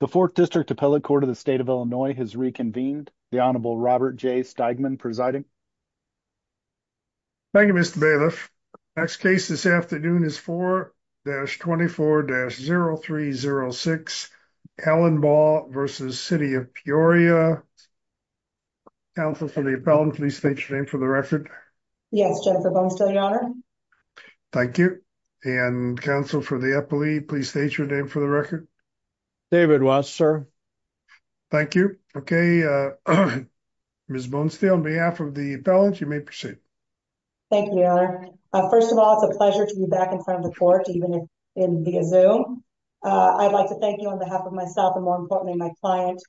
The 4th District Appellate Court of the State of Illinois has reconvened. The Honorable Robert J. Steigman presiding. Thank you, Mr. Bailiff. Next case this afternoon is 4-24-0306, Allenbaugh v. City of Peoria. Counsel for the appellant, please state your name for the record. Yes, Jennifer Bonestell, Your Honor. Thank you. And counsel for the appellee, please state your name for the record. David Watts, sir. Thank you. Okay, Ms. Bonestell, on behalf of the appellant, you may proceed. Thank you, Your Honor. First of all, it's a pleasure to be back in front of the court, even via Zoom. I'd like to thank you on behalf of myself and, more importantly, my client,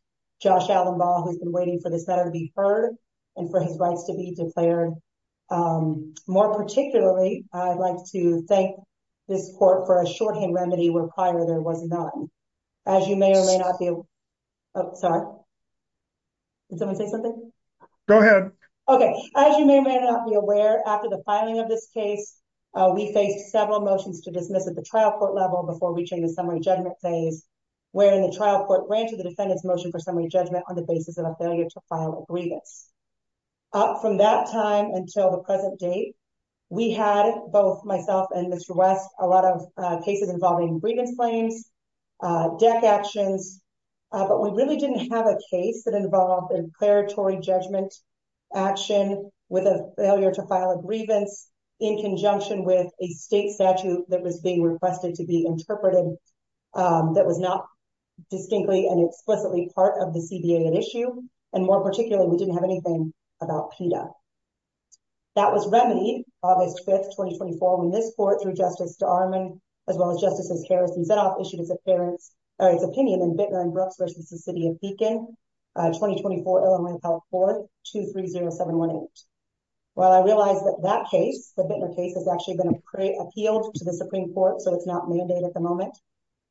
Josh Allenbaugh, who's been waiting for this matter to be heard and for his rights to be declared. More particularly, I'd like to thank this court for a shorthand remedy where prior there was none. As you may or may not be aware... Oh, sorry. Did someone say something? Go ahead. Okay. As you may or may not be aware, after the filing of this case, we faced several motions to dismiss at the trial court level before reaching the summary judgment phase, wherein the trial court ran to the defendant's motion for summary judgment on the basis of a failure to file a grievance. Up from that time until the present date, we had, both myself and Mr. West, a lot of cases involving grievance claims, deck actions, but we really didn't have a case that involved a declaratory judgment action with a failure to file a grievance in conjunction with a state statute that was being requested to be interpreted that was not distinctly and explicitly part of the CBA issue. And more particularly, we didn't have anything about PETA. That was remedied August 5th, 2024, when this court, through Justice Darman, as well as Justices Harris and Zedoff, issued its opinion in Bittner and Brooks v. the City of Beacon, 2024 Illinois Health Court, 230718. While I realize that that case, the Bittner case, has actually been appealed to the Supreme Court, so it's not mandated at the moment,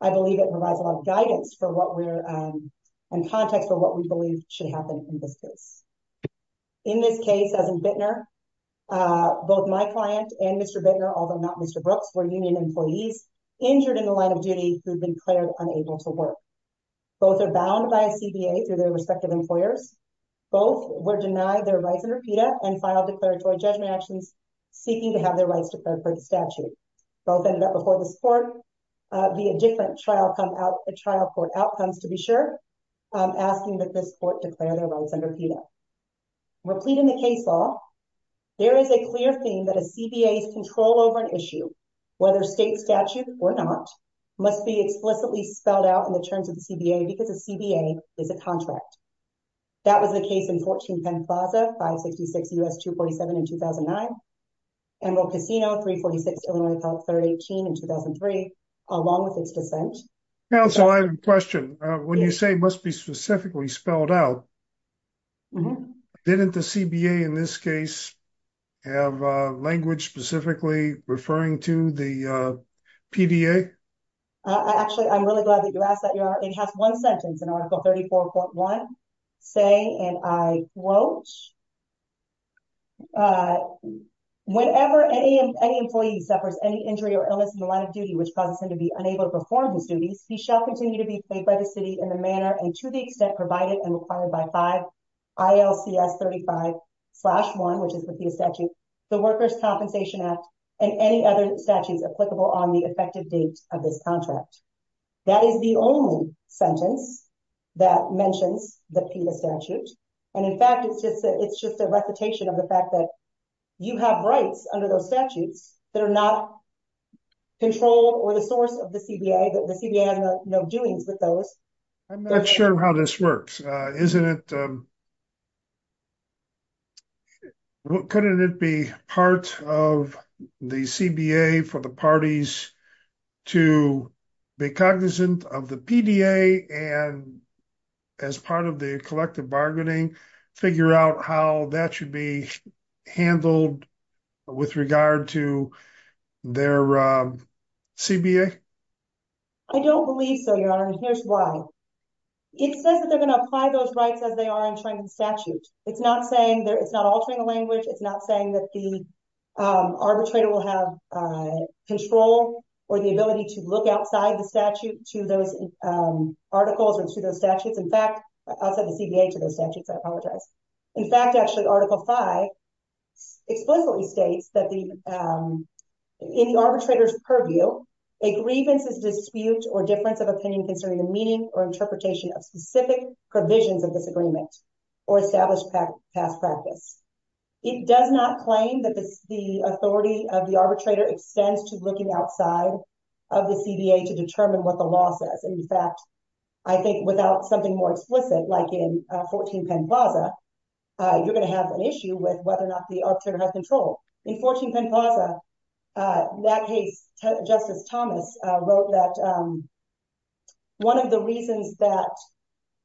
I believe it provides a lot of guidance for what we're... and context for what we believe should happen in this case. In this case, as in Bittner, both my client and Mr. Bittner, although not Mr. Brooks, were union employees injured in the line of duty who'd been declared unable to work. Both are bound by a CBA through their respective employers. Both were denied their rights under PETA and filed declaratory judgment actions seeking to have their rights declared by the statute. Both ended up before this court via different trial court outcomes, to be sure, asking that this court declare their rights under PETA. Replete in the case law, there is a clear theme that a CBA's control over an issue, whether state statute or not, must be explicitly spelled out in the terms of the CBA because a CBA is a contract. That was the case in 14 Penn Plaza, 566 U.S. 247 in 2009, Emerald Casino, 346 Illinois Health 318 in 2003, along with its dissent. Counsel, I have a question. When you say must be specifically spelled out, didn't the CBA in this case have language specifically referring to the PDA? Actually, I'm really glad that you asked that. It has one sentence in Article 34.1, saying, and I quote, whenever any employee suffers any injury or illness in the line of duty, which causes him to be unable to perform his duties, he shall continue to be paid by the city in the manner and to the extent provided and required by 5 ILCS 35-1, which is the PETA statute, the Workers' Compensation Act, and any other statutes applicable on the effective date of this contract. That is the only sentence that mentions the PETA statute. And in fact, it's just a recitation of the fact that you have rights under those statutes that are not controlled or the source of the CBA, that the CBA has no doings with those. I'm not sure how this works. Couldn't it be part of the CBA for the parties to be cognizant of the PDA and as part of the collective bargaining, figure out how that should be handled with regard to their CBA? I don't believe so, Your Honor, and here's why. It says that they're going to apply those rights as they are in training statute. It's not saying, it's not altering the language. It's not saying that the arbitrator will have control or the ability to look outside the statute to those articles or to those statutes. In fact, outside the CBA to those statutes, I apologize. In fact, actually Article V explicitly states that in the arbitrator's purview, a grievance is a dispute or difference of opinion concerning the meaning or interpretation of specific provisions of this agreement or established past practice. It does not claim that the authority of the arbitrator extends to looking outside of the CBA to determine what the law says. In fact, I think without something more explicit, like in 14 Penn Plaza, you're going to have an issue with whether or not the arbitrator has control. In 14 Penn Plaza, that case, Justice Thomas wrote that one of the reasons that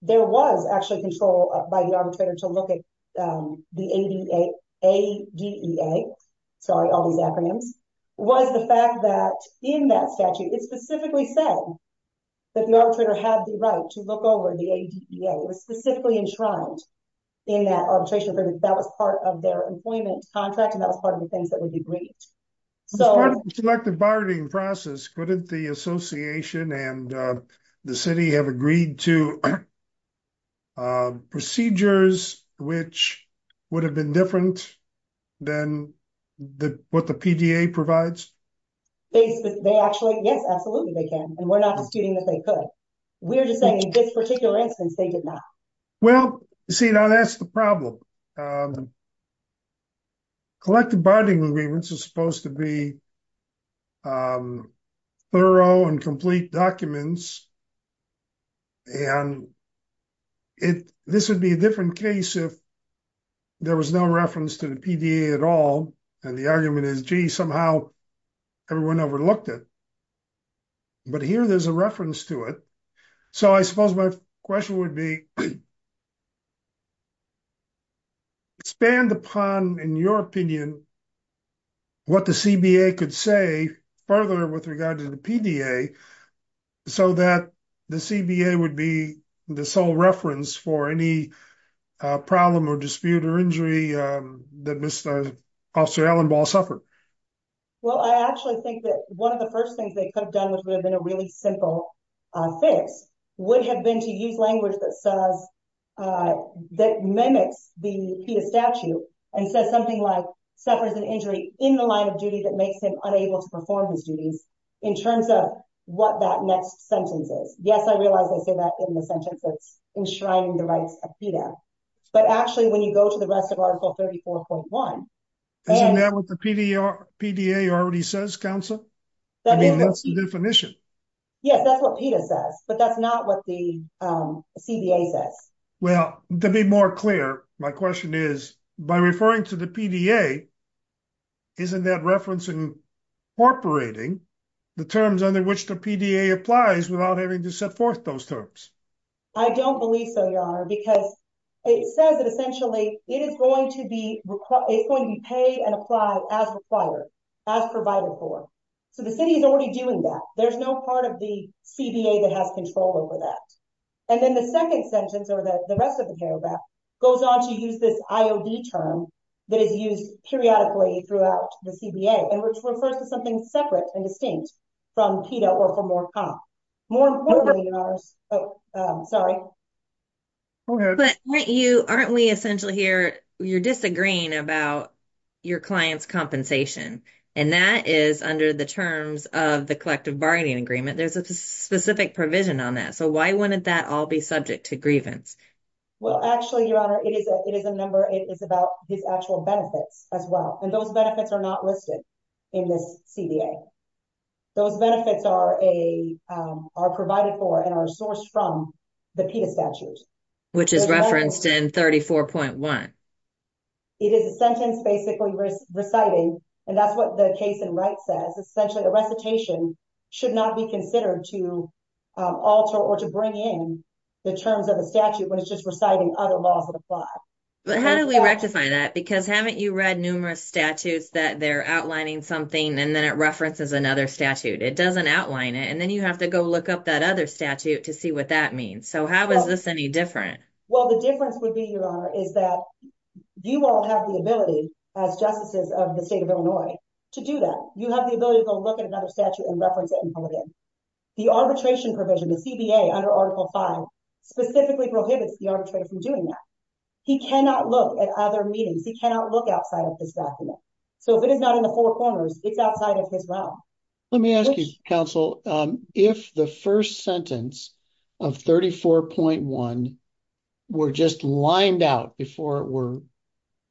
there was actually control by the arbitrator to look at the ADEA, sorry, all these acronyms, was the fact that in that statute, it specifically said that the arbitrator had the right to look over the ADEA. It was specifically enshrined in that arbitration agreement. That was part of their employment contract, and that was part of the things that would be briefed. So- As part of the selective bargaining process, couldn't the association and the city have agreed to procedures which would have been different than what the PDA provides? They actually, yes, absolutely they can, and we're not disputing that they could. We're just saying in this particular instance, they did not. Well, see, now that's the problem. Selective bargaining agreements are supposed to be thorough and complete documents, and this would be a different case if there was no reference to the PDA at all, and the argument is, gee, somehow everyone overlooked it. But here there's a reference to it. So I suppose my question would be, expand upon, in your opinion, what the CBA could say further with regard to the PDA so that the CBA would be the sole reference for any problem or dispute or injury that Officer Allenball suffered. Well, I actually think that one of the first things they could have done, which would have been a really simple fix, would have been to use language that mimics the PETA statute and says something like suffers an injury in the line of duty that makes him unable to perform his duties in terms of what that next sentence is. Yes, I realize I say that in the sentence, it's enshrining the rights of PETA, but actually when you go to the rest of Article 34.1- Isn't that what the PDA already says, Counsel? I mean, that's the definition. Yes, that's what PETA says, but that's not what the CBA says. Well, to be more clear, my question is, by referring to the PDA, isn't that referencing incorporating the terms under which the PDA applies without having to set forth those terms? I don't believe so, Your Honor, because it says that essentially it is going to be paid and applied as required, as provided for. So the city is already doing that. There's no part of the CBA that has control over that. And then the second sentence, or the rest of the paragraph, goes on to use this IOD term that is used periodically throughout the CBA and which refers to something separate and distinct from PETA or from more COP. More importantly, Your Honors, oh, sorry. Go ahead. But aren't we essentially here, you're disagreeing about your client's compensation, and that is under the terms of the collective bargaining agreement. There's a specific provision on that. So why wouldn't that all be subject to grievance? Well, actually, Your Honor, it is a number, it is about his actual benefits as well. And those benefits are not listed in this CBA. Those benefits are provided for and are sourced from the PETA statutes. Which is referenced in 34.1. It is a sentence basically reciting, and that's what the case in right says. Essentially, the recitation should not be considered to alter or to bring in the terms of the statute when it's just reciting other laws that apply. But how do we rectify that? Because haven't you read numerous statutes that they're outlining something, and then it references another statute. It doesn't outline it, and then you have to go look up that other statute to see what that means. So how is this any different? Well, the difference would be, Your Honor, is that you won't have the ability as justices of the state of Illinois to do that. You have the ability to go look at another statute and reference it and pull it in. The arbitration provision, the CBA under Article V, specifically prohibits the arbitrator from doing that. He cannot look at other meetings. He cannot look outside of this document. So if it is not in the four corners, it's outside of his realm. Let me ask you, Counsel, if the first sentence of 34.1 were just lined out before it were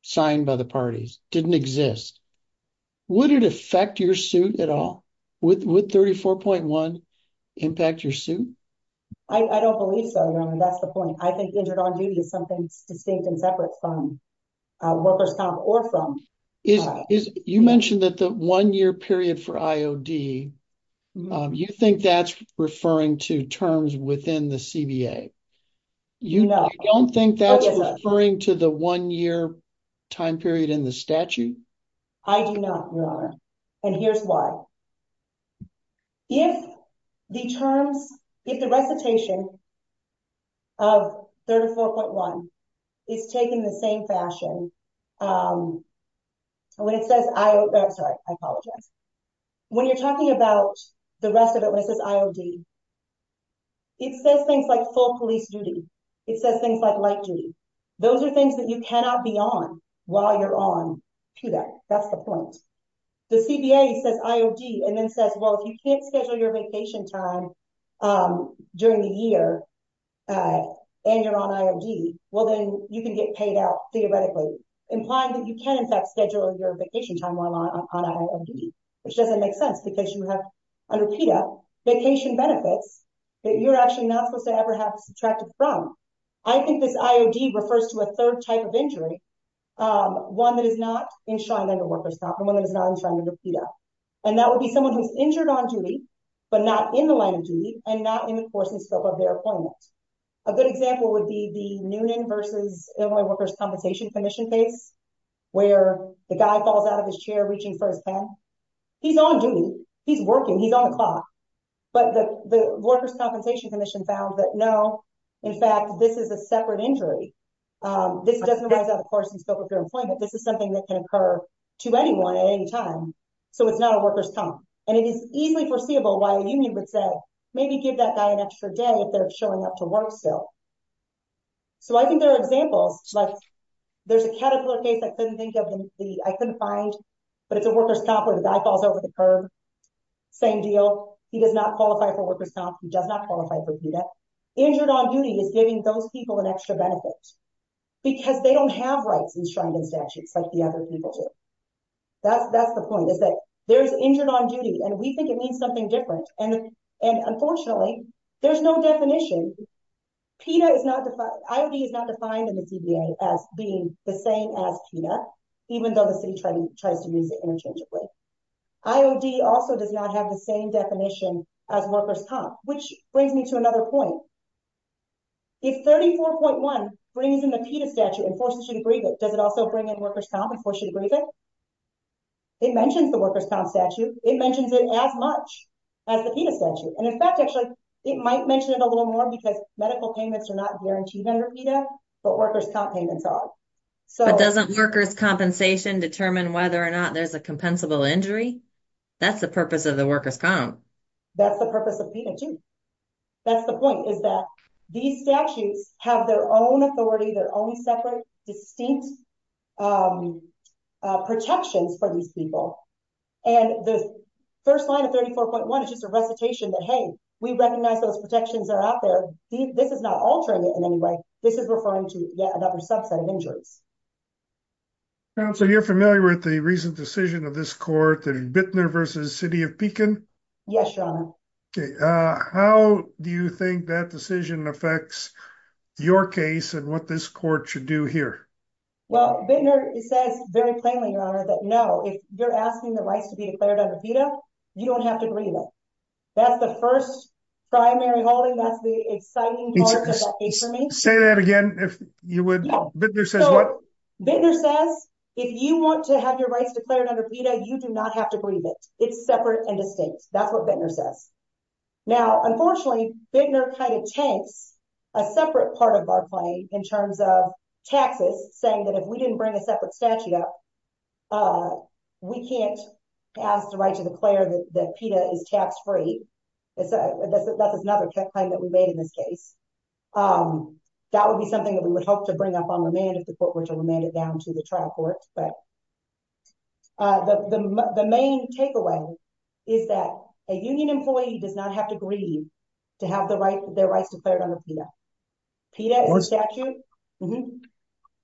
signed by the parties, didn't exist, would it affect your suit at all? Would 34.1 impact your suit? I don't believe so, Your Honor. That's the point. I think injured on duty is something distinct and separate from workers' comp or from. You mentioned that the one-year period for IOD, you think that's referring to terms within the CBA. No. You don't think that's referring to the one-year time period in the statute? I do not, Your Honor, and here's why. If the terms, if the recitation of 34.1 is taken the same fashion, when it says, I'm sorry, I apologize. When you're talking about the rest of it, when it says IOD, it says things like full police duty. It says things like light duty. Those are things that you cannot be on while you're on. That's the point. The CBA says IOD and then says, well, if you can't schedule your vacation time during the year and you're on IOD, well then you can get paid out theoretically, implying that you can, in fact, schedule your vacation time while on IOD, which doesn't make sense because you have, under PETA, vacation benefits that you're actually not supposed to ever have subtracted from. I think this IOD refers to a third type of injury, one that is not enshrined under workers' comp and one that is not enshrined under PETA. And that would be someone who's injured on duty, but not in the line of duty and not in the course and scope of their employment. A good example would be the Noonan versus Illinois workers' compensation commission case where the guy falls out of his chair, reaching for his pen. He's on duty. He's working. He's on the clock, but the workers' compensation commission found that no, in fact, this is a separate injury. This doesn't rise out of the course and scope of your employment. This is something that can occur to anyone at any time. So it's not a workers' comp. And it is easily foreseeable why a union would say, maybe give that guy an extra day if they're showing up to work still. So I think there are examples like there's a Caterpillar case. I couldn't think of the, I couldn't find, but it's a workers' comp where the guy falls over the curb. Same deal. He does not qualify for workers' comp. He does not qualify for PETA. Injured on duty is giving those people an extra benefit because they don't have rights enshrined in statutes like the other people do. That's the point is that there's injured on duty and we think it means something different. And unfortunately there's no definition. PETA is not defined. IOD is not defined in the DBA as being the same as PETA, even though the city tries to use it interchangeably. IOD also does not have the same definition as workers' comp, which brings me to another point. If 34.1 brings in the PETA statute and forces you to grieve it, does it also bring in workers' comp and force you to grieve it? It mentions the workers' comp statute. It mentions it as much as the PETA statute. And in fact, actually it might mention it a little more because medical payments are not guaranteed under PETA, but workers' comp payments are. But doesn't workers' compensation determine whether or not there's a compensable injury? That's the purpose of the workers' comp. That's the purpose of PETA too. That's the point is that these statutes have their own authority, their own separate, distinct protections for these people. And the first line of 34.1 is just a recitation that, hey, we recognize those protections are out there. This is not altering it in any way. This is referring to yet another subset of injuries. So you're familiar with the recent decision of this court, Bittner versus City of Pekin. Yes, Your Honor. How do you think that decision affects your case and what this court should do here? Well, Bittner says very plainly, Your Honor, that no, if you're asking the rights to be declared under PETA, you don't have to grieve it. That's the first primary holding. That's the exciting part of that case for me. Say that again, if you would. Bittner says what? Bittner says, if you want to have your rights declared under PETA, you do not have to grieve it. It's separate and distinct. That's what Bittner says. Now, unfortunately, Bittner kind of takes a separate part of our claim in terms of taxes, saying that if we didn't bring a separate statute up, we can't ask the right to declare that PETA is tax-free. That's another claim that we made in this case. That would be something that we would hope to bring up on remand if the court were to remand it down to the trial court. The main takeaway is that a union employee does not have to grieve to have their rights declared under PETA. PETA is a statute.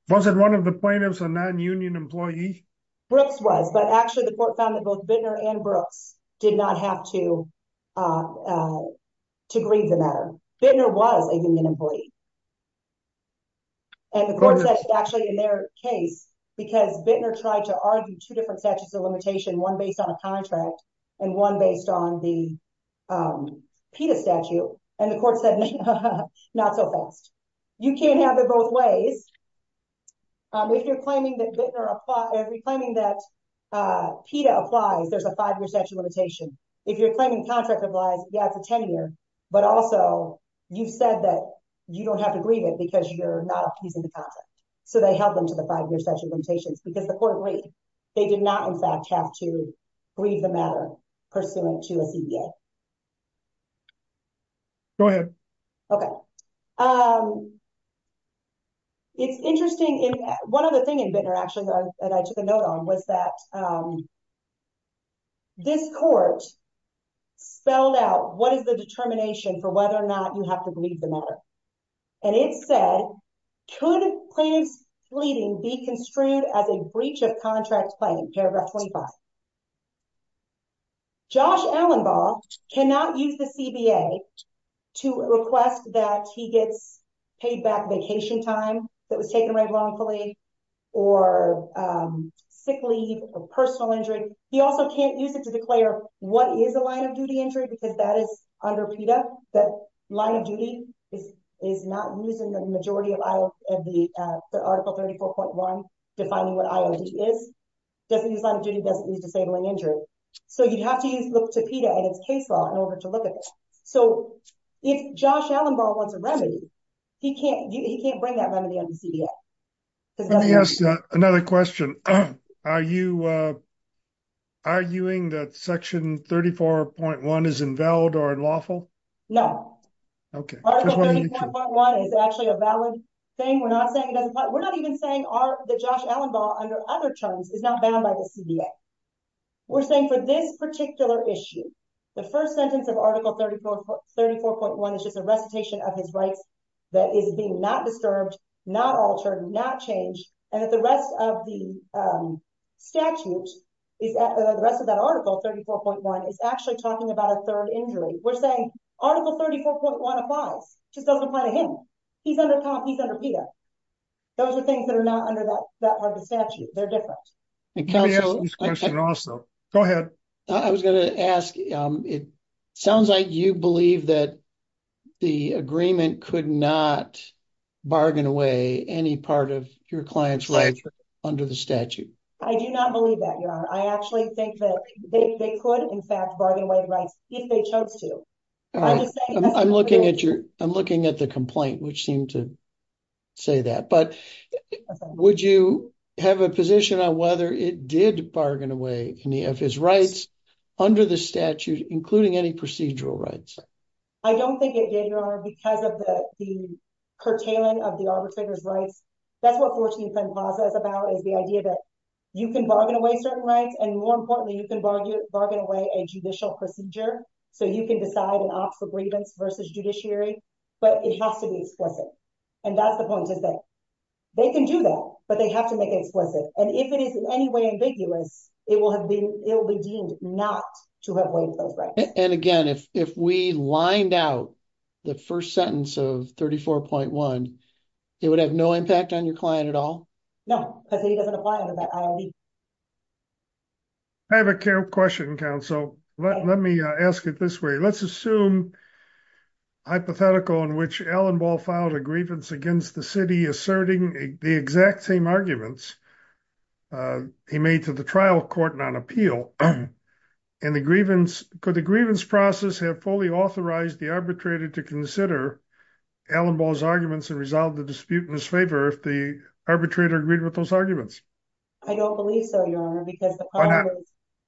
Wasn't one of the plaintiffs a non-union employee? Brooks was, but actually the court found that both Bittner and Brooks did not have to grieve the matter. Bittner was a union employee. The court said actually in their case, because Bittner tried to argue two different statutes of limitation, one based on a contract and one based on the PETA statute, and the court said not so fast. You can't have it both ways. If you're claiming that PETA applies, there's a five-year statute limitation. If you're claiming contract applies, yeah, it's a 10-year. But also you've said that you don't have to grieve it because you're not abusing the contract. So they held them to the five-year statute limitations because the court agreed. They did not in fact have to grieve the matter pursuant to a CBA. Go ahead. It's interesting. One other thing in Bittner actually that I took a note on was that this court spelled out what is the determination for whether or not you have to grieve the matter. And it said, could plaintiff's pleading be construed as a breach of contract claim, paragraph 25. Josh Allenbaugh cannot use the CBA to request that he gets paid back vacation time that was taken away wrongfully or sick leave or personal injury. He also can't use it to declare what is a line of duty injury, because that is under PETA. That line of duty is not using the majority of the article 34.1 defining what IOD is. Doesn't use line of duty, doesn't use disabling injury. So you'd have to look to PETA and its case law in order to look at this. So if Josh Allenbaugh wants a remedy, he can't bring that remedy on the CBA. Let me ask another question. Are you arguing that section 34.1 is invalid or unlawful? Okay. Article 34.1 is actually a valid thing. We're not saying it doesn't apply. We're not even saying that Josh Allenbaugh under other terms is not bound by the CBA. We're saying for this particular issue, the first sentence of article 34.1 is just a recitation of his rights that is being not disturbed, not altered, not changed. And that the rest of the statute, the rest of that article 34.1, is actually talking about a third injury. We're saying article 34.1 applies. It just doesn't apply to him. He's under COMP, he's under PETA. Those are things that are not under that part of the statute. They're different. Go ahead. I was going to ask, it sounds like you believe that the agreement could not bargain away any of his rights under the statute. I do not believe that, Your Honor. I actually think that they could, in fact, bargain away rights if they chose to. I'm looking at the complaint, which seemed to say that. But would you have a position on whether it did bargain away any of his rights under the statute, including any procedural rights? I don't think it did, Your Honor, because of the curtailing of the arbitrator's rights. That's what 1410 Plaza is about, is the idea that you can bargain away certain rights, and more importantly, you can bargain away a judicial procedure. So you can decide and opt for grievance versus judiciary, but it has to be explicit. And that's the point, is that they can do that, but they have to make it explicit. And if it is in any way ambiguous, it will be deemed not to have waived those rights. And again, if we lined out the first sentence of 34.1, it would have no impact on your client at all? No. I have a question, counsel. Let me ask it this way. Let's assume hypothetical in which Alan Ball filed a grievance against the city, asserting the exact same arguments he made to the trial court on appeal and the grievance, could the grievance process have fully authorized the arbitrator to consider Alan Ball's arguments and resolve the dispute in his favor if the arbitrator agreed with those arguments? I don't believe so, Your Honor, because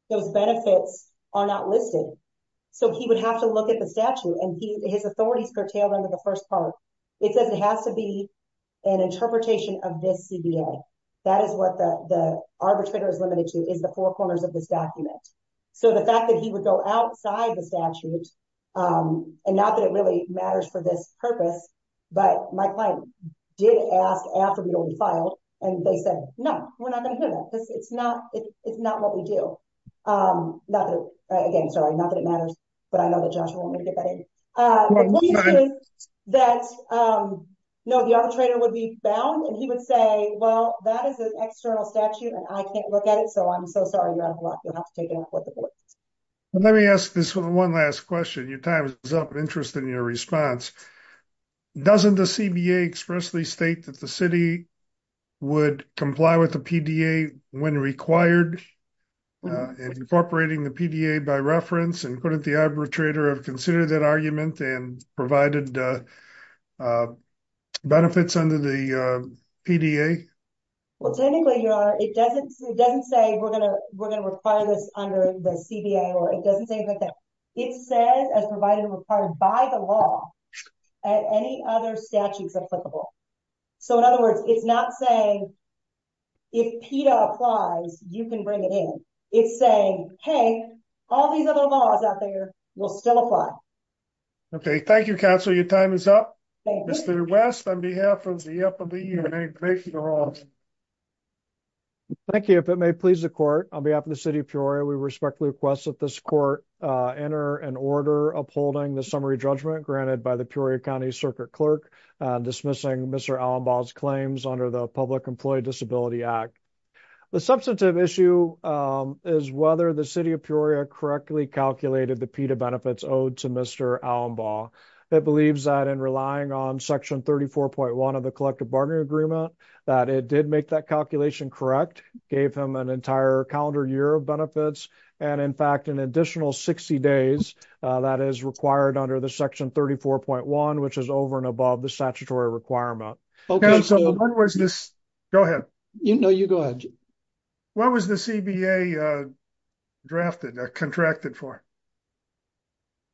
those benefits are not listed. So he would have to look at the statute and his authorities curtailed under the first part. It says it has to be an interpretation of this CBA. That is what the arbitrator is limited to, is the four corners of this document. So the fact that he would go outside the statute, and not that it really matters for this purpose, but my client did ask after we'd already filed, and they said, no, we're not going to hear that because it's not what we do. Again, sorry, not that it matters, but I know that Joshua won't let me get that in. The point is that the arbitrator would be bound and he would say, well, that is an external statute and I can't look at it. So I'm so sorry, Your Honor, you'll have to take it up with the board. Let me ask this one last question. Your time is up. I'm interested in your response. Doesn't the CBA expressly state that the city would comply with the PDA when required, incorporating the PDA by reference, and couldn't the arbitrator have considered that argument and provided benefits under the PDA? Well, technically, Your Honor, it doesn't say we're going to require this under the CBA, or it doesn't say anything like that. It says as provided and required by the law, and any other statutes applicable. So in other words, it's not saying if PDA applies, you can bring it in. It's saying, hey, all these other laws out there will still apply. Okay. Thank you, counsel. Your time is up. Mr. West, on behalf of the EPA. Thank you, Your Honor. Thank you. If it may please the court, on behalf of the city of Peoria, we respectfully request that this court enter an order upholding the summary judgment granted by the Peoria County Circuit Clerk, dismissing Mr. Allenbaugh's claims under the Public Employee Disability Act. The substantive issue is whether the city of Peoria correctly calculated the PEDA benefits owed to Mr. Allenbaugh. It believes that in relying on section 34.1 of the collective bargaining agreement, that it did make that calculation correct, gave him an entire calendar year of benefits. And in fact, an additional 60 days, that is required under the section 34.1, which is over and above the statutory requirement. Okay. So what was this? Go ahead. No, you go ahead. What was the CBA drafted or contracted for?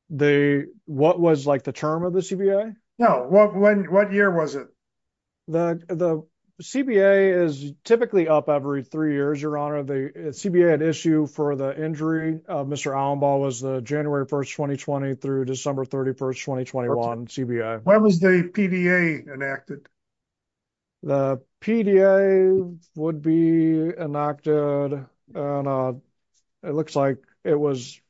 What was like the term of the CBA? No. What year was it? The CBA is typically up every three years, Your Honor. The CBA had issue for the injury of Mr. Allenbaugh was the January 1st, 2020 through December 31st, 2021 CBA. When was the PDA enacted? The PDA would be enacted. It looks like it was,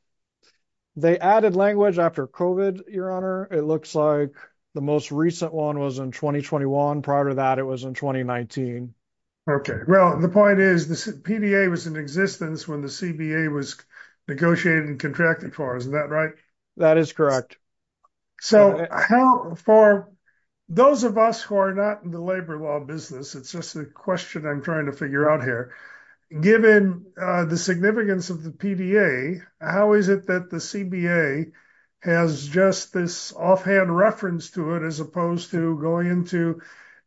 they added language after COVID, Your Honor. It looks like the most recent one was in 2021. Prior to that, it was in 2019. Okay. Well, the point is the PDA was in existence when the CBA was negotiated and contracted for. Isn't that right? That is correct. So for those of us who are not in the labor law business, it's just a question I'm trying to figure out here. Given the significance of the PDA, how is it that the CBA has just this offhand reference to it as opposed to going into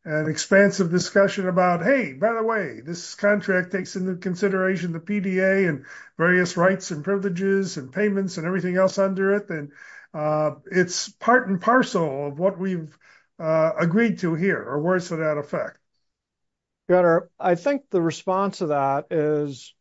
an expansive discussion about, hey, by the way, this contract takes into consideration the PDA and various rights and It's part and parcel of what we've agreed to here or worse to that effect. Your Honor, I think the response to that is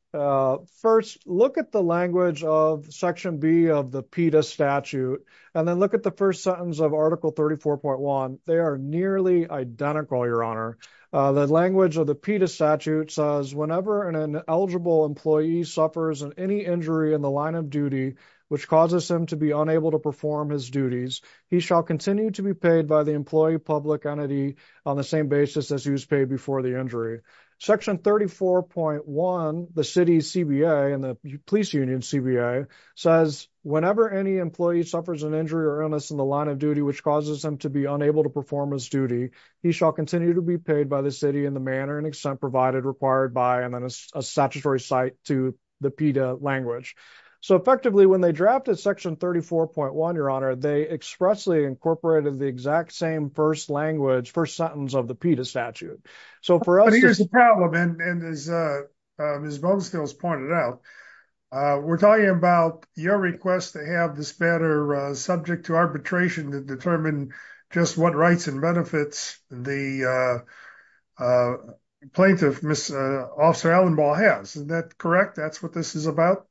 first, look at the language of section B of the PDA statute, and then look at the first sentence of article 34.1. They are nearly identical, Your Honor. The language of the PDA statute says whenever an eligible employee suffers any injury in the line of duty, which causes him to be unable to perform his duties, he shall continue to be paid by the employee public entity on the same basis as he was paid before the injury. Section 34.1, the city's CBA and the police union CBA says whenever any employee suffers an injury or illness in the line of duty, which causes them to be unable to perform his duty, he shall continue to be paid by the city in the manner and extent provided required by a statutory site to the PDA language. So effectively when they drafted section 34.1, Your Honor, they expressly incorporated the exact same first language, first sentence of the PDA statute. So for us, Here's the problem. And as Ms. Boglesteel has pointed out, we're talking about your request to have this matter subject to arbitration to determine just what rights and benefits the plaintiff, Officer Allenball has. Is that correct? That's what this is about.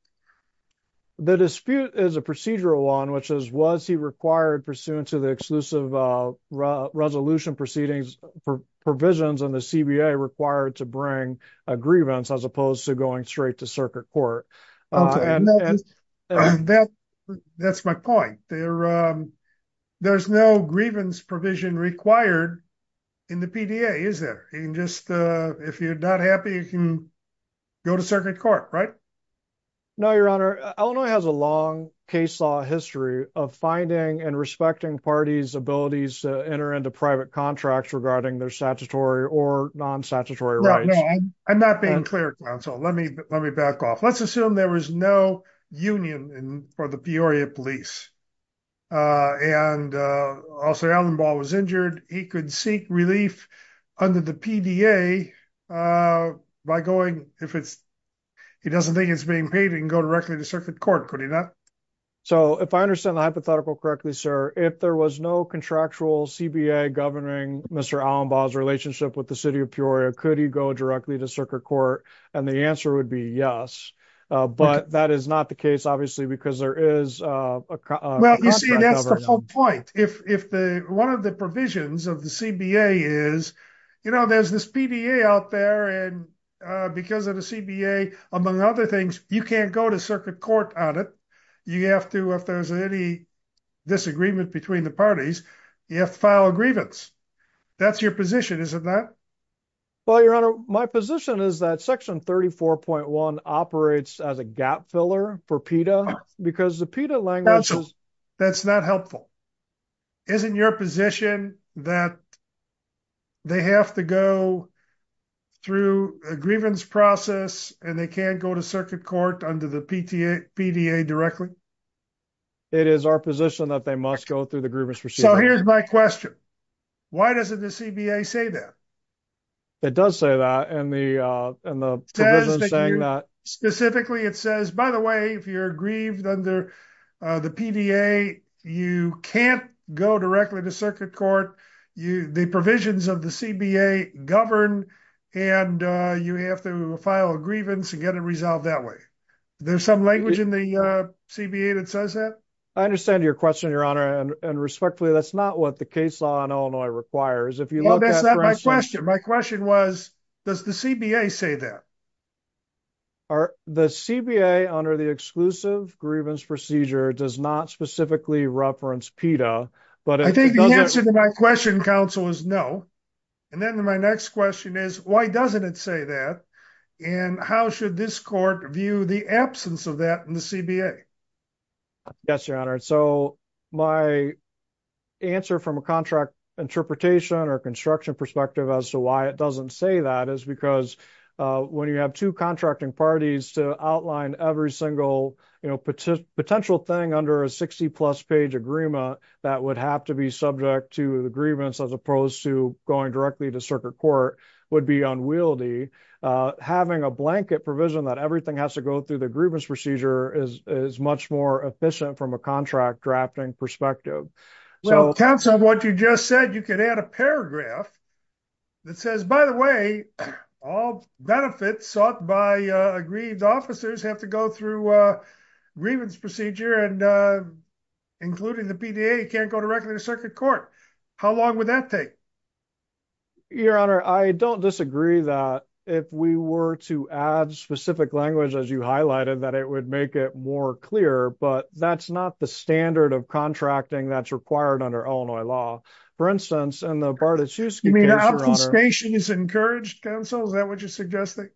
The dispute is a procedural one, which is was he required pursuant to the exclusive resolution proceedings for provisions on the CBA required to bring a grievance as opposed to going straight to circuit court. That's my point. There there's no grievance provision required in the PDA, is there? If you're not happy, you can go to circuit court, right? No, Your Honor. Illinois has a long case law history of finding and respecting parties abilities to enter into private contracts regarding their statutory or non-statutory rights. I'm not being clear. So let me, let me back off. Let's assume there was no union for the Peoria police. And also Allenball was injured. He could seek relief under the PDA by going, if it's, he doesn't think it's being paid and go directly to circuit court. Could he not? So if I understand the hypothetical correctly, sir, if there was no contractual CBA governing Mr. Allenball's relationship with the city of Peoria, could he go directly to circuit court? And the answer would be yes, but that is not the case, obviously, because there is. Well, you see, that's the whole point. If the, one of the provisions of the CBA is, you know, there's this PDA out there and because of the CBA, among other things, you can't go to circuit court on it. You have to, if there's any disagreement between the parties, you have to file a grievance. That's your position, isn't that? Well, Your Honor, my position is that section 34.1 operates as a gap filler for PETA because the PETA language. That's not helpful. Isn't your position that they have to go through a grievance process and they can't go to circuit court under the PDA directly? It is our position that they must go through the grievance procedure. So here's my question. Why doesn't the CBA say that? It does say that. And the provision saying that. Specifically, it says, by the way, if you're aggrieved under the PDA, you can't go directly to circuit court. The provisions of the CBA govern and you have to file a grievance and get it resolved that way. There's some language in the CBA that says that. I understand your question, Your Honor. And respectfully, that's not what the case law in Illinois requires. If you look at- My question was, does the CBA say that? The CBA, under the exclusive grievance procedure, does not specifically reference PETA. I think the answer to my question, counsel, is no. And then my next question is, why doesn't it say that? And how should this court view the absence of that in the CBA? Yes, Your Honor. So my answer from a contract interpretation or construction perspective as to why it doesn't say that is because when you have two contracting parties to outline every single potential thing under a 60-plus page agreement that would have to be subject to the grievance as opposed to going directly to circuit court would be unwieldy. Having a blanket provision that everything has to go through the grievance procedure is much more efficient from a contract drafting perspective. Counsel, what you just said, you could add a paragraph that says, by the way, all benefits sought by aggrieved officers have to go through grievance procedure and including the PTA can't go directly to circuit court. How long would that take? Your Honor, I don't disagree that if we were to add specific language, as you highlighted, that it would make it more clear. But that's not the standard of contracting that's required under Illinois law. For instance, in the Bartoszewski case, Your Honor. You mean obfuscation is encouraged, Counsel? Is that what you're suggesting?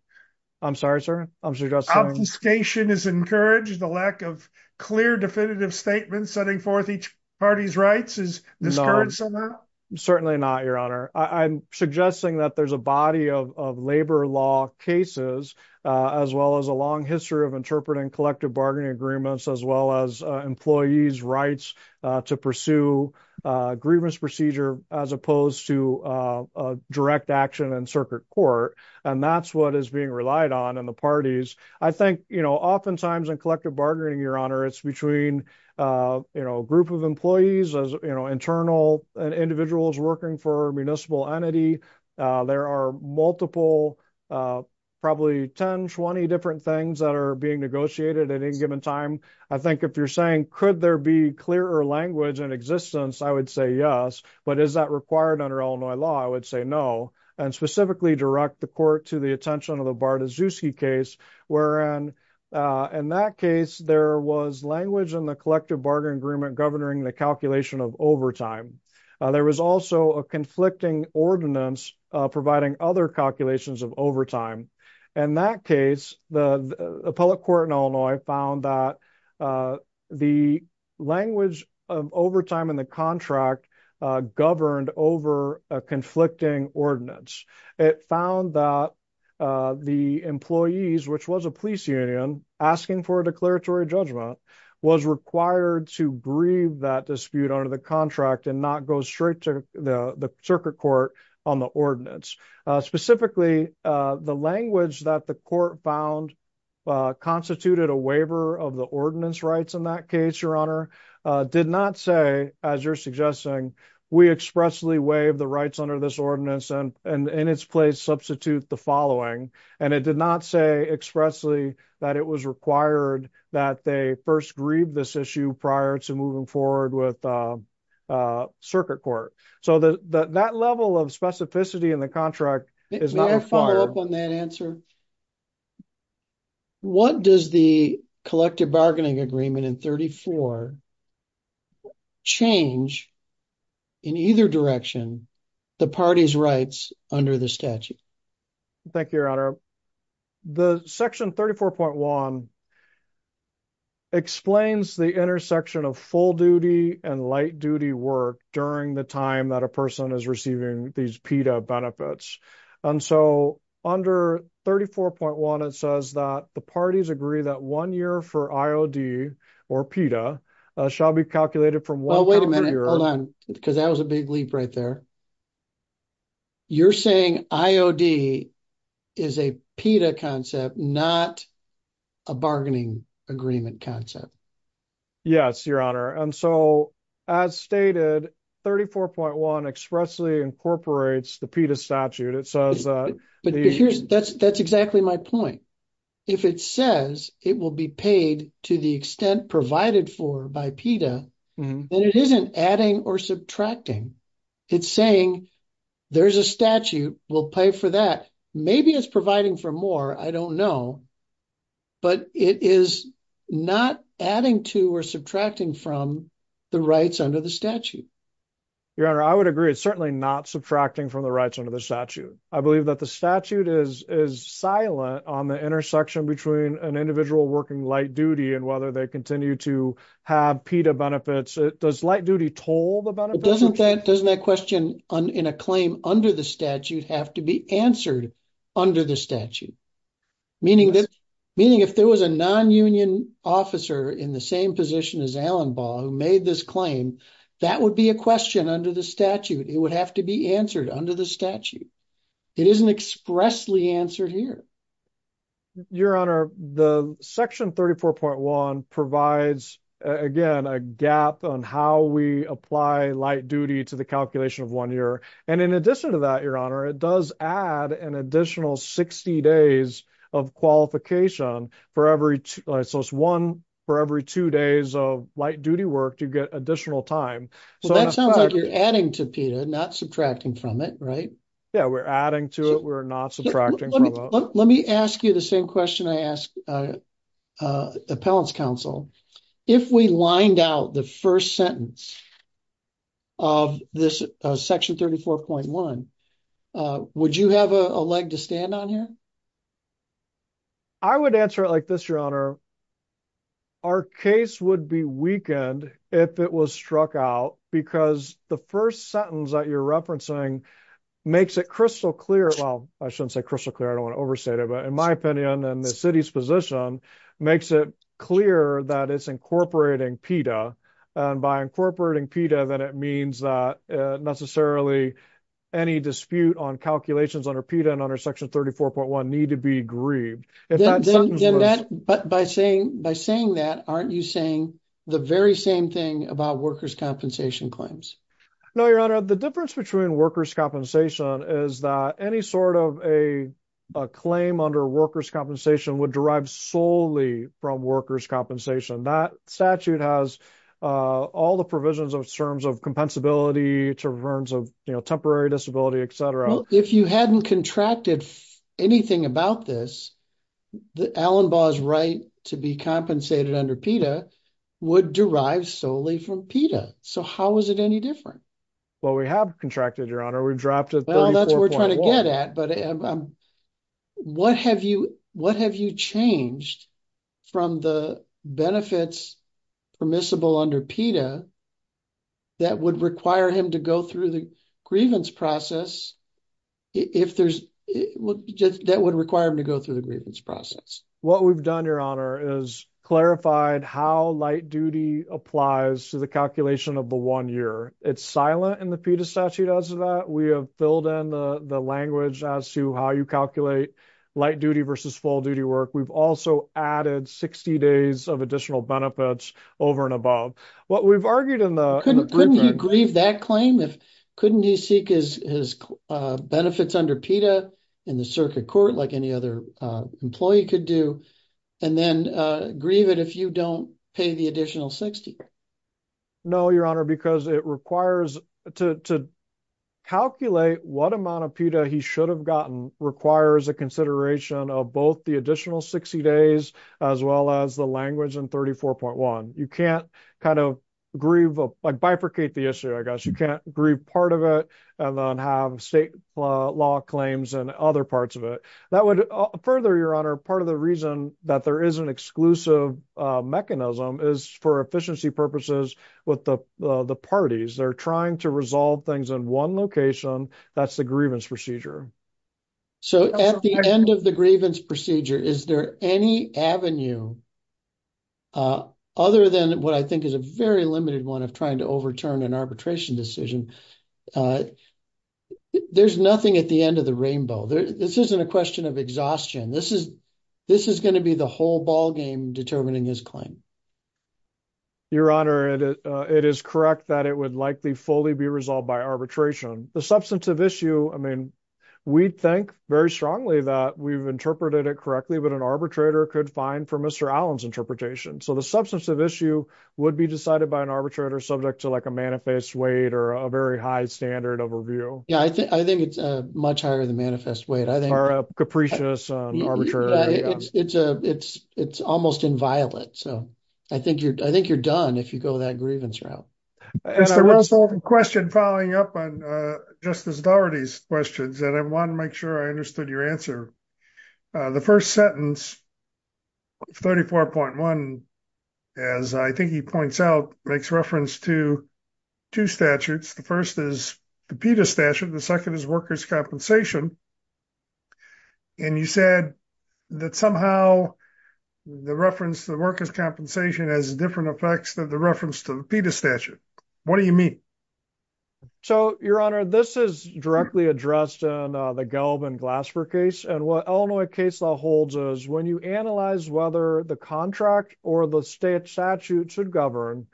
I'm sorry, sir. Obfuscation is encouraged. The lack of clear definitive statements setting forth each party's rights is discouraged somehow? Certainly not, Your Honor. I'm suggesting that there's a body of labor law cases as well as a long history of interpreting collective bargaining agreements as well as employees' rights to pursue grievance procedure as opposed to direct action in circuit court. And that's what is being relied on in the parties. I think oftentimes in collective bargaining, Your Honor, it's between a group of employees, internal individuals working for a municipal entity. There are multiple, probably 10, 20 different things that are being negotiated at any given time. I think if you're saying could there be clearer language in existence, I would say yes. But is that required under Illinois law? I would say no. And specifically direct the court to the attention of the Bartoszewski case wherein in that case there was language in the collective bargaining agreement governing the calculation of overtime. There was also a conflicting ordinance providing other calculations of In that case, the appellate court in Illinois found that the language of overtime in the contract governed over a conflicting ordinance. It found that the employees, which was a police union, asking for a declaratory judgment, was required to grieve that dispute under the contract and not go straight to the circuit court on the ordinance. Specifically, the language that the court found constituted a waiver of the ordinance rights in that case, Your Honor, did not say, as you're suggesting, we expressly waive the rights under this ordinance and in its place substitute the following. And it did not say expressly that it was required that they first grieve this issue prior to moving forward with circuit court. So that level of specificity in the contract is not required. May I follow up on that answer? What does the collective bargaining agreement in 34 change in either direction the party's rights under the statute? Thank you, Your Honor. The section 34.1 explains the intersection of full duty and light duty work during the time that a person is receiving these PETA benefits. And so under 34.1, it says that the parties agree that one year for IOD or PETA shall be calculated from one year. Hold on, because that was a big leap right there. You're saying IOD is a PETA concept, not a bargaining agreement concept. Yes, Your Honor. And so as stated, 34.1 expressly incorporates the PETA statute. It says that. That's exactly my point. If it says it will be paid to the extent provided for by PETA, then it isn't adding or subtracting. It's saying there's a statute, we'll pay for that. Maybe it's providing for more. I don't know. But it is not adding to or subtracting from the rights under the statute. Your Honor, I would agree. It's certainly not subtracting from the rights under the statute. I believe that the statute is silent on the intersection between an individual working light duty and whether they continue to have PETA benefits. Does light duty toll the benefits? Doesn't that question in a claim under the statute have to be answered under the statute? Meaning if there was a non-union officer in the same position as Allen Ball who made this claim, that would be a question under the statute. It would have to be answered under the statute. It isn't expressly answered here. Your Honor, the section 34.1 provides, again, a gap on how we apply light duty to the calculation of one year. In addition to that, Your Honor, it does add an additional 60 days of qualification for every two days of light duty work to get additional time. That sounds like you're adding to PETA, not subtracting from it, right? Yeah, we're adding to it. We're not subtracting from it. Let me ask you the same question I asked Appellant's Counsel. If we lined out the first sentence of this section 34.1, would you have a leg to stand on here? I would answer it like this, Your Honor. Our case would be weakened if it was struck out because the first sentence that you're referencing makes it crystal clear. Well, I shouldn't say crystal clear. I don't want to overstate it. In my opinion, and the city's position makes it clear that it's incorporating PETA, and by incorporating PETA, that it means that necessarily any dispute on calculations under PETA and under section 34.1 need to be grieved. By saying that, aren't you saying the very same thing about workers' compensation claims? No, Your Honor. The difference between workers' compensation is that any sort of a claim under workers' compensation would derive solely from workers' compensation. That statute has all the provisions in terms of compensability, in terms of temporary disability, et cetera. Well, if you hadn't contracted anything about this, Allenbaugh's right to be compensated under PETA would derive solely from PETA. How is it any different? Well, we have contracted, Your Honor. We've dropped it 34.1. Well, that's what we're trying to get at, but what have you changed from the benefits permissible under PETA that would require him to go through the grievance process if there's – that would require him to go through the grievance process? What we've done, Your Honor, is clarified how light duty applies to the calculation of the one year. It's silent in the PETA statute as of that. We have filled in the language as to how you calculate light duty versus full duty work. We've also added 60 days of additional benefits over and above. What we've argued in the – Couldn't you grieve that claim if – couldn't he seek his benefits under PETA in the circuit court like any other employee could do and then grieve it if you don't pay the additional 60? No, Your Honor, because it requires – to calculate what amount of PETA he should have gotten requires a consideration of both the additional 60 days as well as the language in 34.1. You can't kind of grieve – like bifurcate the issue, I guess. You can't grieve part of it and then have state law claims and other parts of it. That would – further, Your Honor, part of the reason that there is an exclusive mechanism is for efficiency purposes with the parties. They're trying to resolve things in one location. That's the grievance procedure. So at the end of the grievance procedure, is there any avenue other than what I think is a very limited one of trying to overturn an arbitration decision? There's nothing at the end of the rainbow. This isn't a question of exhaustion. This is going to be the whole ballgame determining his claim. Your Honor, it is correct that it would likely fully be resolved by arbitration. The substantive issue – I mean, we think very strongly that we've interpreted it correctly, but an arbitrator could find from Mr. Allen's interpretation. So the substantive issue would be decided by an arbitrator subject to like a manifest weight or a very high standard of review. Yeah, I think it's much higher than manifest weight. Or a capricious arbitrator. It's almost inviolate. So I think you're done if you go that grievance route. I have a question following up on Justice Daugherty's questions, and I want to make sure I understood your answer. The first sentence, 34.1, as I think he points out, makes reference to two statutes. The first is the PETA statute. The second is workers' compensation. And you said that somehow the reference to the workers' compensation has different effects than the reference to the PETA statute. What do you mean? So, Your Honor, this is directly addressed in the Gelb and Glasper case, and what Illinois case law holds is when you analyze whether the contract or the statute should govern,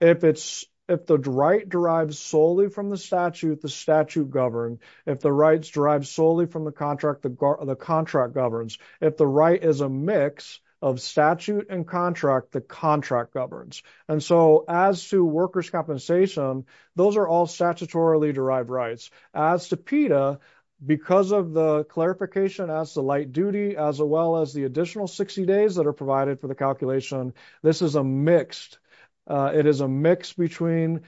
if the right derives solely from the statute, the statute governs. If the rights derive solely from the contract, the contract governs. If the right is a mix of statute and contract, the contract governs. And so as to workers' compensation, those are all statutorily derived rights. As to PETA, because of the clarification as to light duty, as well as the additional 60 days that are provided for the calculation, this is a mixed, it is a mix between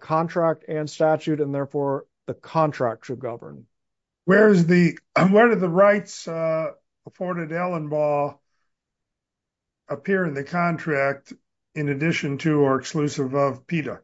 contract and statute, and therefore the contract should govern. Where do the rights afforded Allenbaugh appear in the contract in addition to or exclusive of PETA?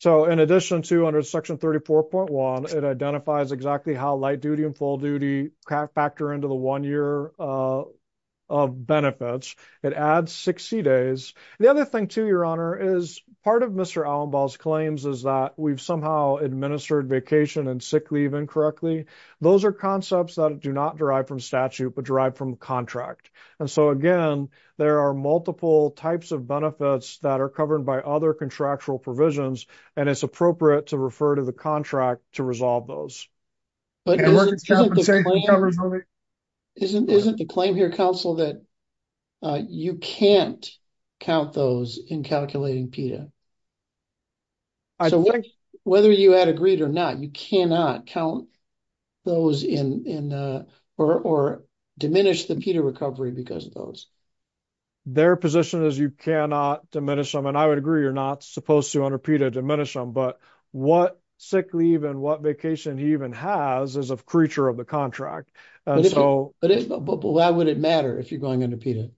So in addition to under Section 34.1, it identifies exactly how light duty and full duty factor into the one year of benefits. It adds 60 days. The other thing, too, Your Honor, is part of Mr. Allenbaugh's claims is that we've somehow administered vacation and sick leave incorrectly. Those are concepts that do not derive from statute, but derive from the contract. And so, again, there are multiple types of benefits that are covered by other contractual provisions, and it's appropriate to refer to the contract to resolve those. Isn't the claim here, counsel, that you can't count those in calculating PETA? So whether you had agreed or not, you cannot count those or diminish the PETA recovery because of those. Their position is you cannot diminish them, and I would agree you're not supposed to under PETA diminish them, but what sick leave and what vacation he even has is a creature of the contract. But why would it matter if you're going under PETA?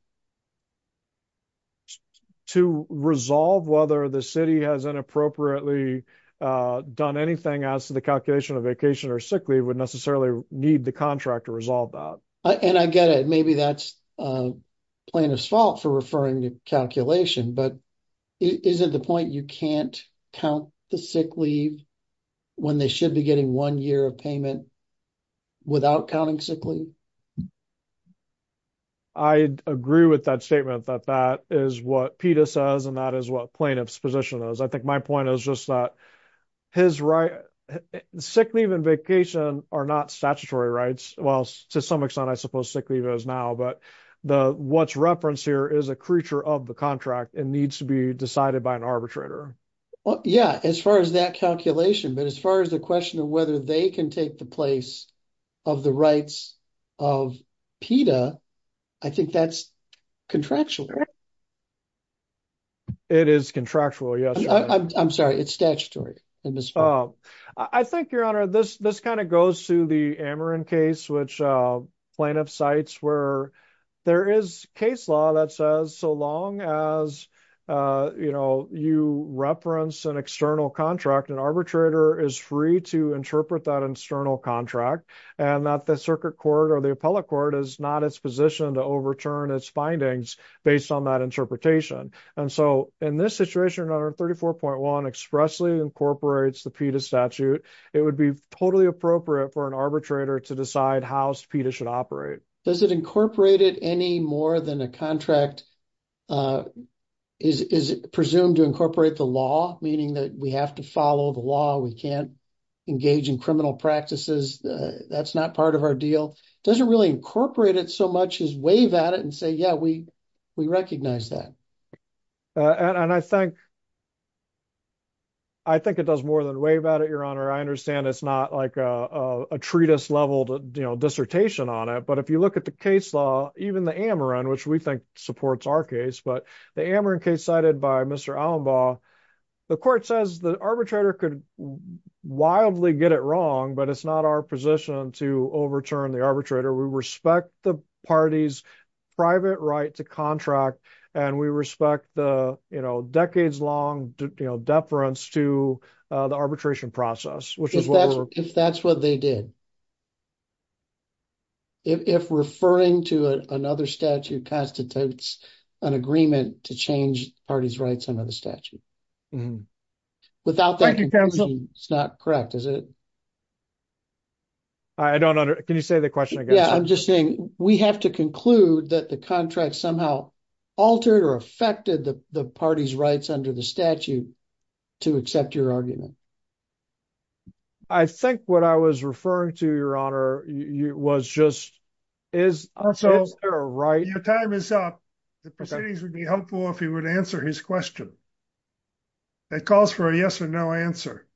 To resolve whether the city has inappropriately done anything as to the calculation of vacation or sick leave would necessarily need the contract to resolve that. And I get it. Maybe that's plaintiff's fault for referring to calculation, but is it the point you can't count the sick leave when they should be getting one year of payment without counting sick leave? I agree with that statement that that is what PETA says and that is what plaintiff's position is. I think my point is just that sick leave and vacation are not statutory rights. Well, to some extent I suppose sick leave is now, but what's referenced here is a creature of the contract and needs to be decided by an arbitrator. Yeah, as far as that calculation, but as far as the question of whether they can take the place of the rights of PETA, I think that's contractual. It is contractual, yes. I'm sorry, it's statutory. I think, Your Honor, this kind of goes to the Ameren case, which plaintiff cites where there is case law that says so long as you reference an external contract, an arbitrator is free to interpret that external contract and that the circuit court or the appellate court is not its position to overturn its findings based on that interpretation. And so in this situation, under 34.1 expressly incorporates the PETA statute, it would be totally appropriate for an arbitrator to decide how PETA should operate. Does it incorporate it any more than a contract is presumed to incorporate the law, meaning that we have to follow the law, we can't engage in criminal practices, that's not part of our deal? Does it really incorporate it so much as wave at it and say, yeah, we recognize that? And I think it does more than wave at it, Your Honor. I understand it's not like a treatise level dissertation on it, but if you look at the case law, even the Ameren, which we think supports our case, but the Ameren case cited by Mr. Allenbaugh, the court says the arbitrator could wildly get it wrong, but it's not our position to overturn the arbitrator. We respect the party's private right to contract, and we respect the decades-long deference to the arbitration process. If that's what they did. If referring to another statute constitutes an agreement to change the party's rights under the statute. Thank you, counsel. It's not correct, is it? I don't understand. Can you say the question again? Yeah, I'm just saying we have to conclude that the contract somehow altered or affected the party's rights under the statute to accept your argument. I think what I was referring to, Your Honor, was just is there a right? Your time is up. The proceedings would be helpful if you would answer his question. That calls for a yes or no answer.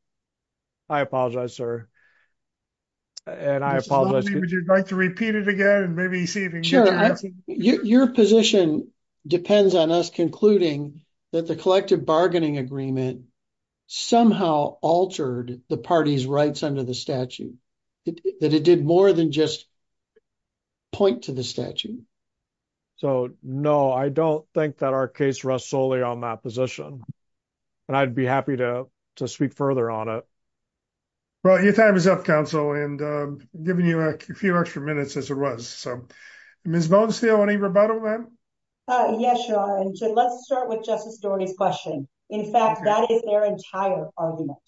I apologize, sir. And I apologize. Would you like to repeat it again? Sure. Your position depends on us concluding that the collective bargaining agreement somehow altered the party's rights under the statute. That it did more than just point to the statute. So, no, I don't think that our case rests solely on that position. And I'd be happy to speak further on it. Well, your time is up, counsel, and I'm giving you a few extra minutes, as it was. Ms. Bonestell, any rebuttal, ma'am? Yes, Your Honor. Let's start with Justice Doherty's question. In fact, that is their entire argument.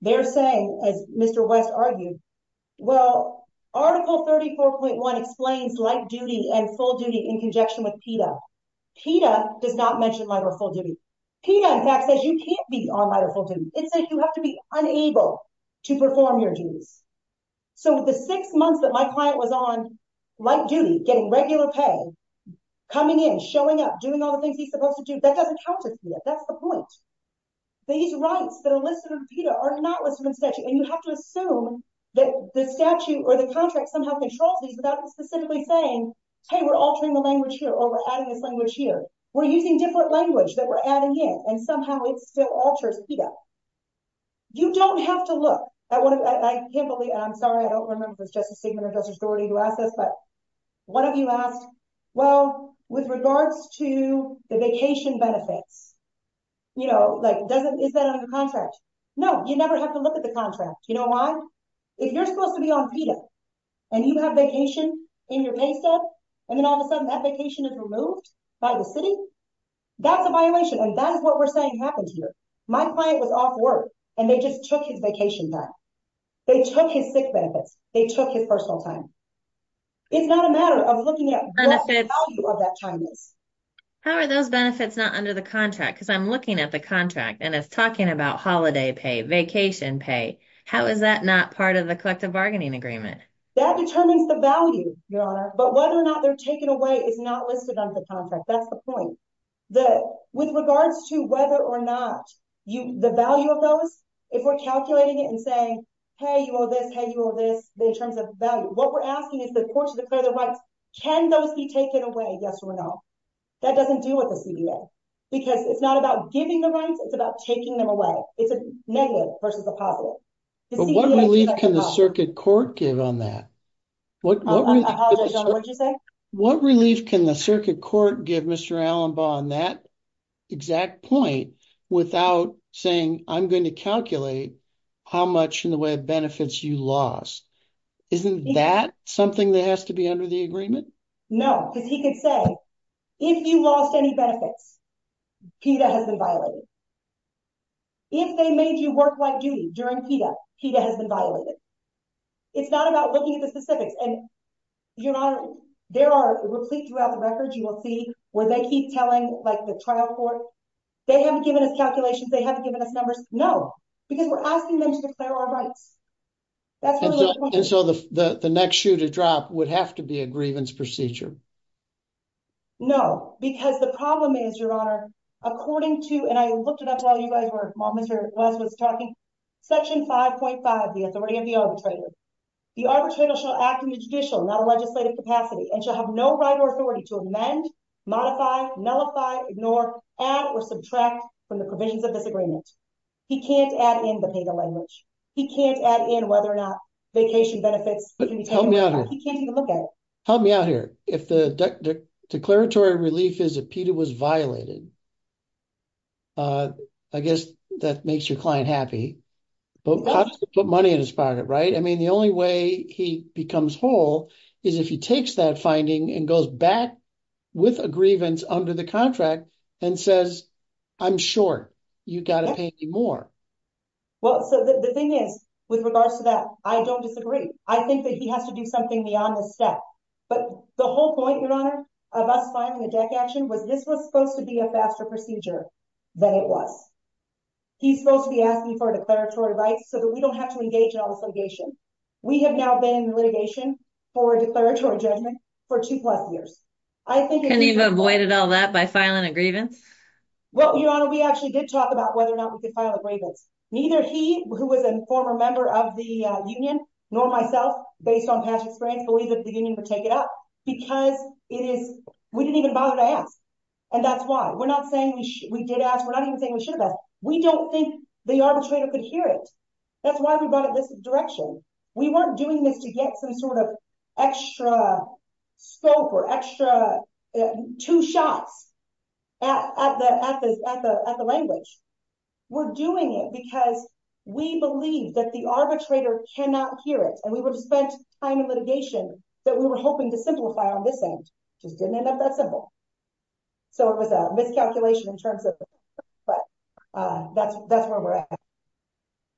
They're saying, as Mr. West argued, well, Article 34.1 explains light duty and full duty in conjunction with PETA. PETA does not mention light or full duty. PETA, in fact, says you can't be on light or full duty. It says you have to be unable to perform your duties. So the six months that my client was on light duty, getting regular pay, coming in, showing up, doing all the things he's supposed to do, that doesn't count as PETA. That's the point. These rights that are listed under PETA are not listed under the statute. And you have to assume that the statute or the contract somehow controls these without specifically saying, hey, we're altering the language here, or we're adding this language here. We're using different language that we're adding in, and somehow it still alters PETA. You don't have to look. I can't believe, and I'm sorry, I don't remember if it was Justice Stegman or Justice Doherty who asked this, but one of you asked, well, with regards to the vacation benefits, you know, like, is that under the contract? No, you never have to look at the contract. You know why? If you're supposed to be on PETA, and you have vacation in your pay stub, and then all of a sudden that vacation is removed by the city, that's a violation, and that is what we're saying happened here. My client was off work, and they just took his vacation time. They took his sick benefits. They took his personal time. It's not a matter of looking at what the value of that time is. How are those benefits not under the contract? Because I'm looking at the contract, and it's talking about holiday pay, vacation pay. How is that not part of the collective bargaining agreement? That determines the value, Your Honor, but whether or not they're taken away is not listed under the contract. That's the point. With regards to whether or not the value of those, if we're calculating it and saying, hey, you owe this, hey, you owe this in terms of value, what we're asking is the court should declare their rights. Can those be taken away? Yes or no? That doesn't deal with the CBA. Because it's not about giving the rights, it's about taking them away. It's a negative versus a positive. What relief can the circuit court give on that? I apologize, Your Honor, what did you say? What relief can the circuit court give Mr. How much in the way of benefits you lost? Isn't that something that has to be under the agreement? No, because he could say, if you lost any benefits, PETA has been violated. If they made you work light duty during PETA, PETA has been violated. It's not about looking at the specifics. And, Your Honor, there are replete throughout the records, you will see where they keep telling like the trial court, they haven't given us calculations, they haven't given us numbers. No, because we're asking them to declare our rights. And so the next shoe to drop would have to be a grievance procedure. No, because the problem is, Your Honor, according to, and I looked it up while you guys were talking, section 5.5, the authority of the arbitrator. The arbitrator shall act in the judicial, not a legislative capacity, and shall have no right or authority to amend, modify, nullify, ignore, add or subtract from the provisions of this agreement. He can't add in the PETA language. He can't add in whether or not vacation benefits can be taken away. He can't even look at it. Help me out here. If the declaratory relief is that PETA was violated, I guess that makes your client happy. But how does he put money in his pocket, right? I mean, the only way he becomes whole is if he takes that finding and goes back with a grievance under the contract and says, I'm sure you've got to pay me more. Well, so the thing is, with regards to that, I don't disagree. I think that he has to do something beyond this step. But the whole point, Your Honor, of us filing a DEC action, was this was supposed to be a faster procedure than it was. He's supposed to be asking for declaratory rights so that we don't have to engage in all this litigation. We have now been in litigation for a declaratory judgment for two plus years. Can you have avoided all that by filing a grievance? Well, Your Honor, we actually did talk about whether or not we could file a grievance. Neither he, who was a former member of the union, nor myself based on past experience, believe that the union would take it up because it is, we didn't even bother to ask. And that's why we're not saying we did ask. We're not even saying we should have asked. We don't think the arbitrator could hear it. That's why we brought it in this direction. We weren't doing this to get some sort of extra scope or extra two shots at the language. We're doing it because we believe that the arbitrator cannot hear it. And we would have spent time in litigation that we were hoping to simplify on this end. It just didn't end up that simple. So it was a miscalculation in terms of, but that's where we're at.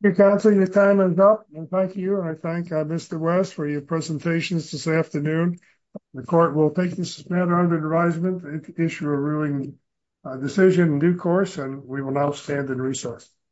Your counsel, your time is up. And thank you. And I thank Mr. West for your presentations this afternoon. The court will take this matter under advisement and issue a ruling decision in due course. And we will now stand and recess.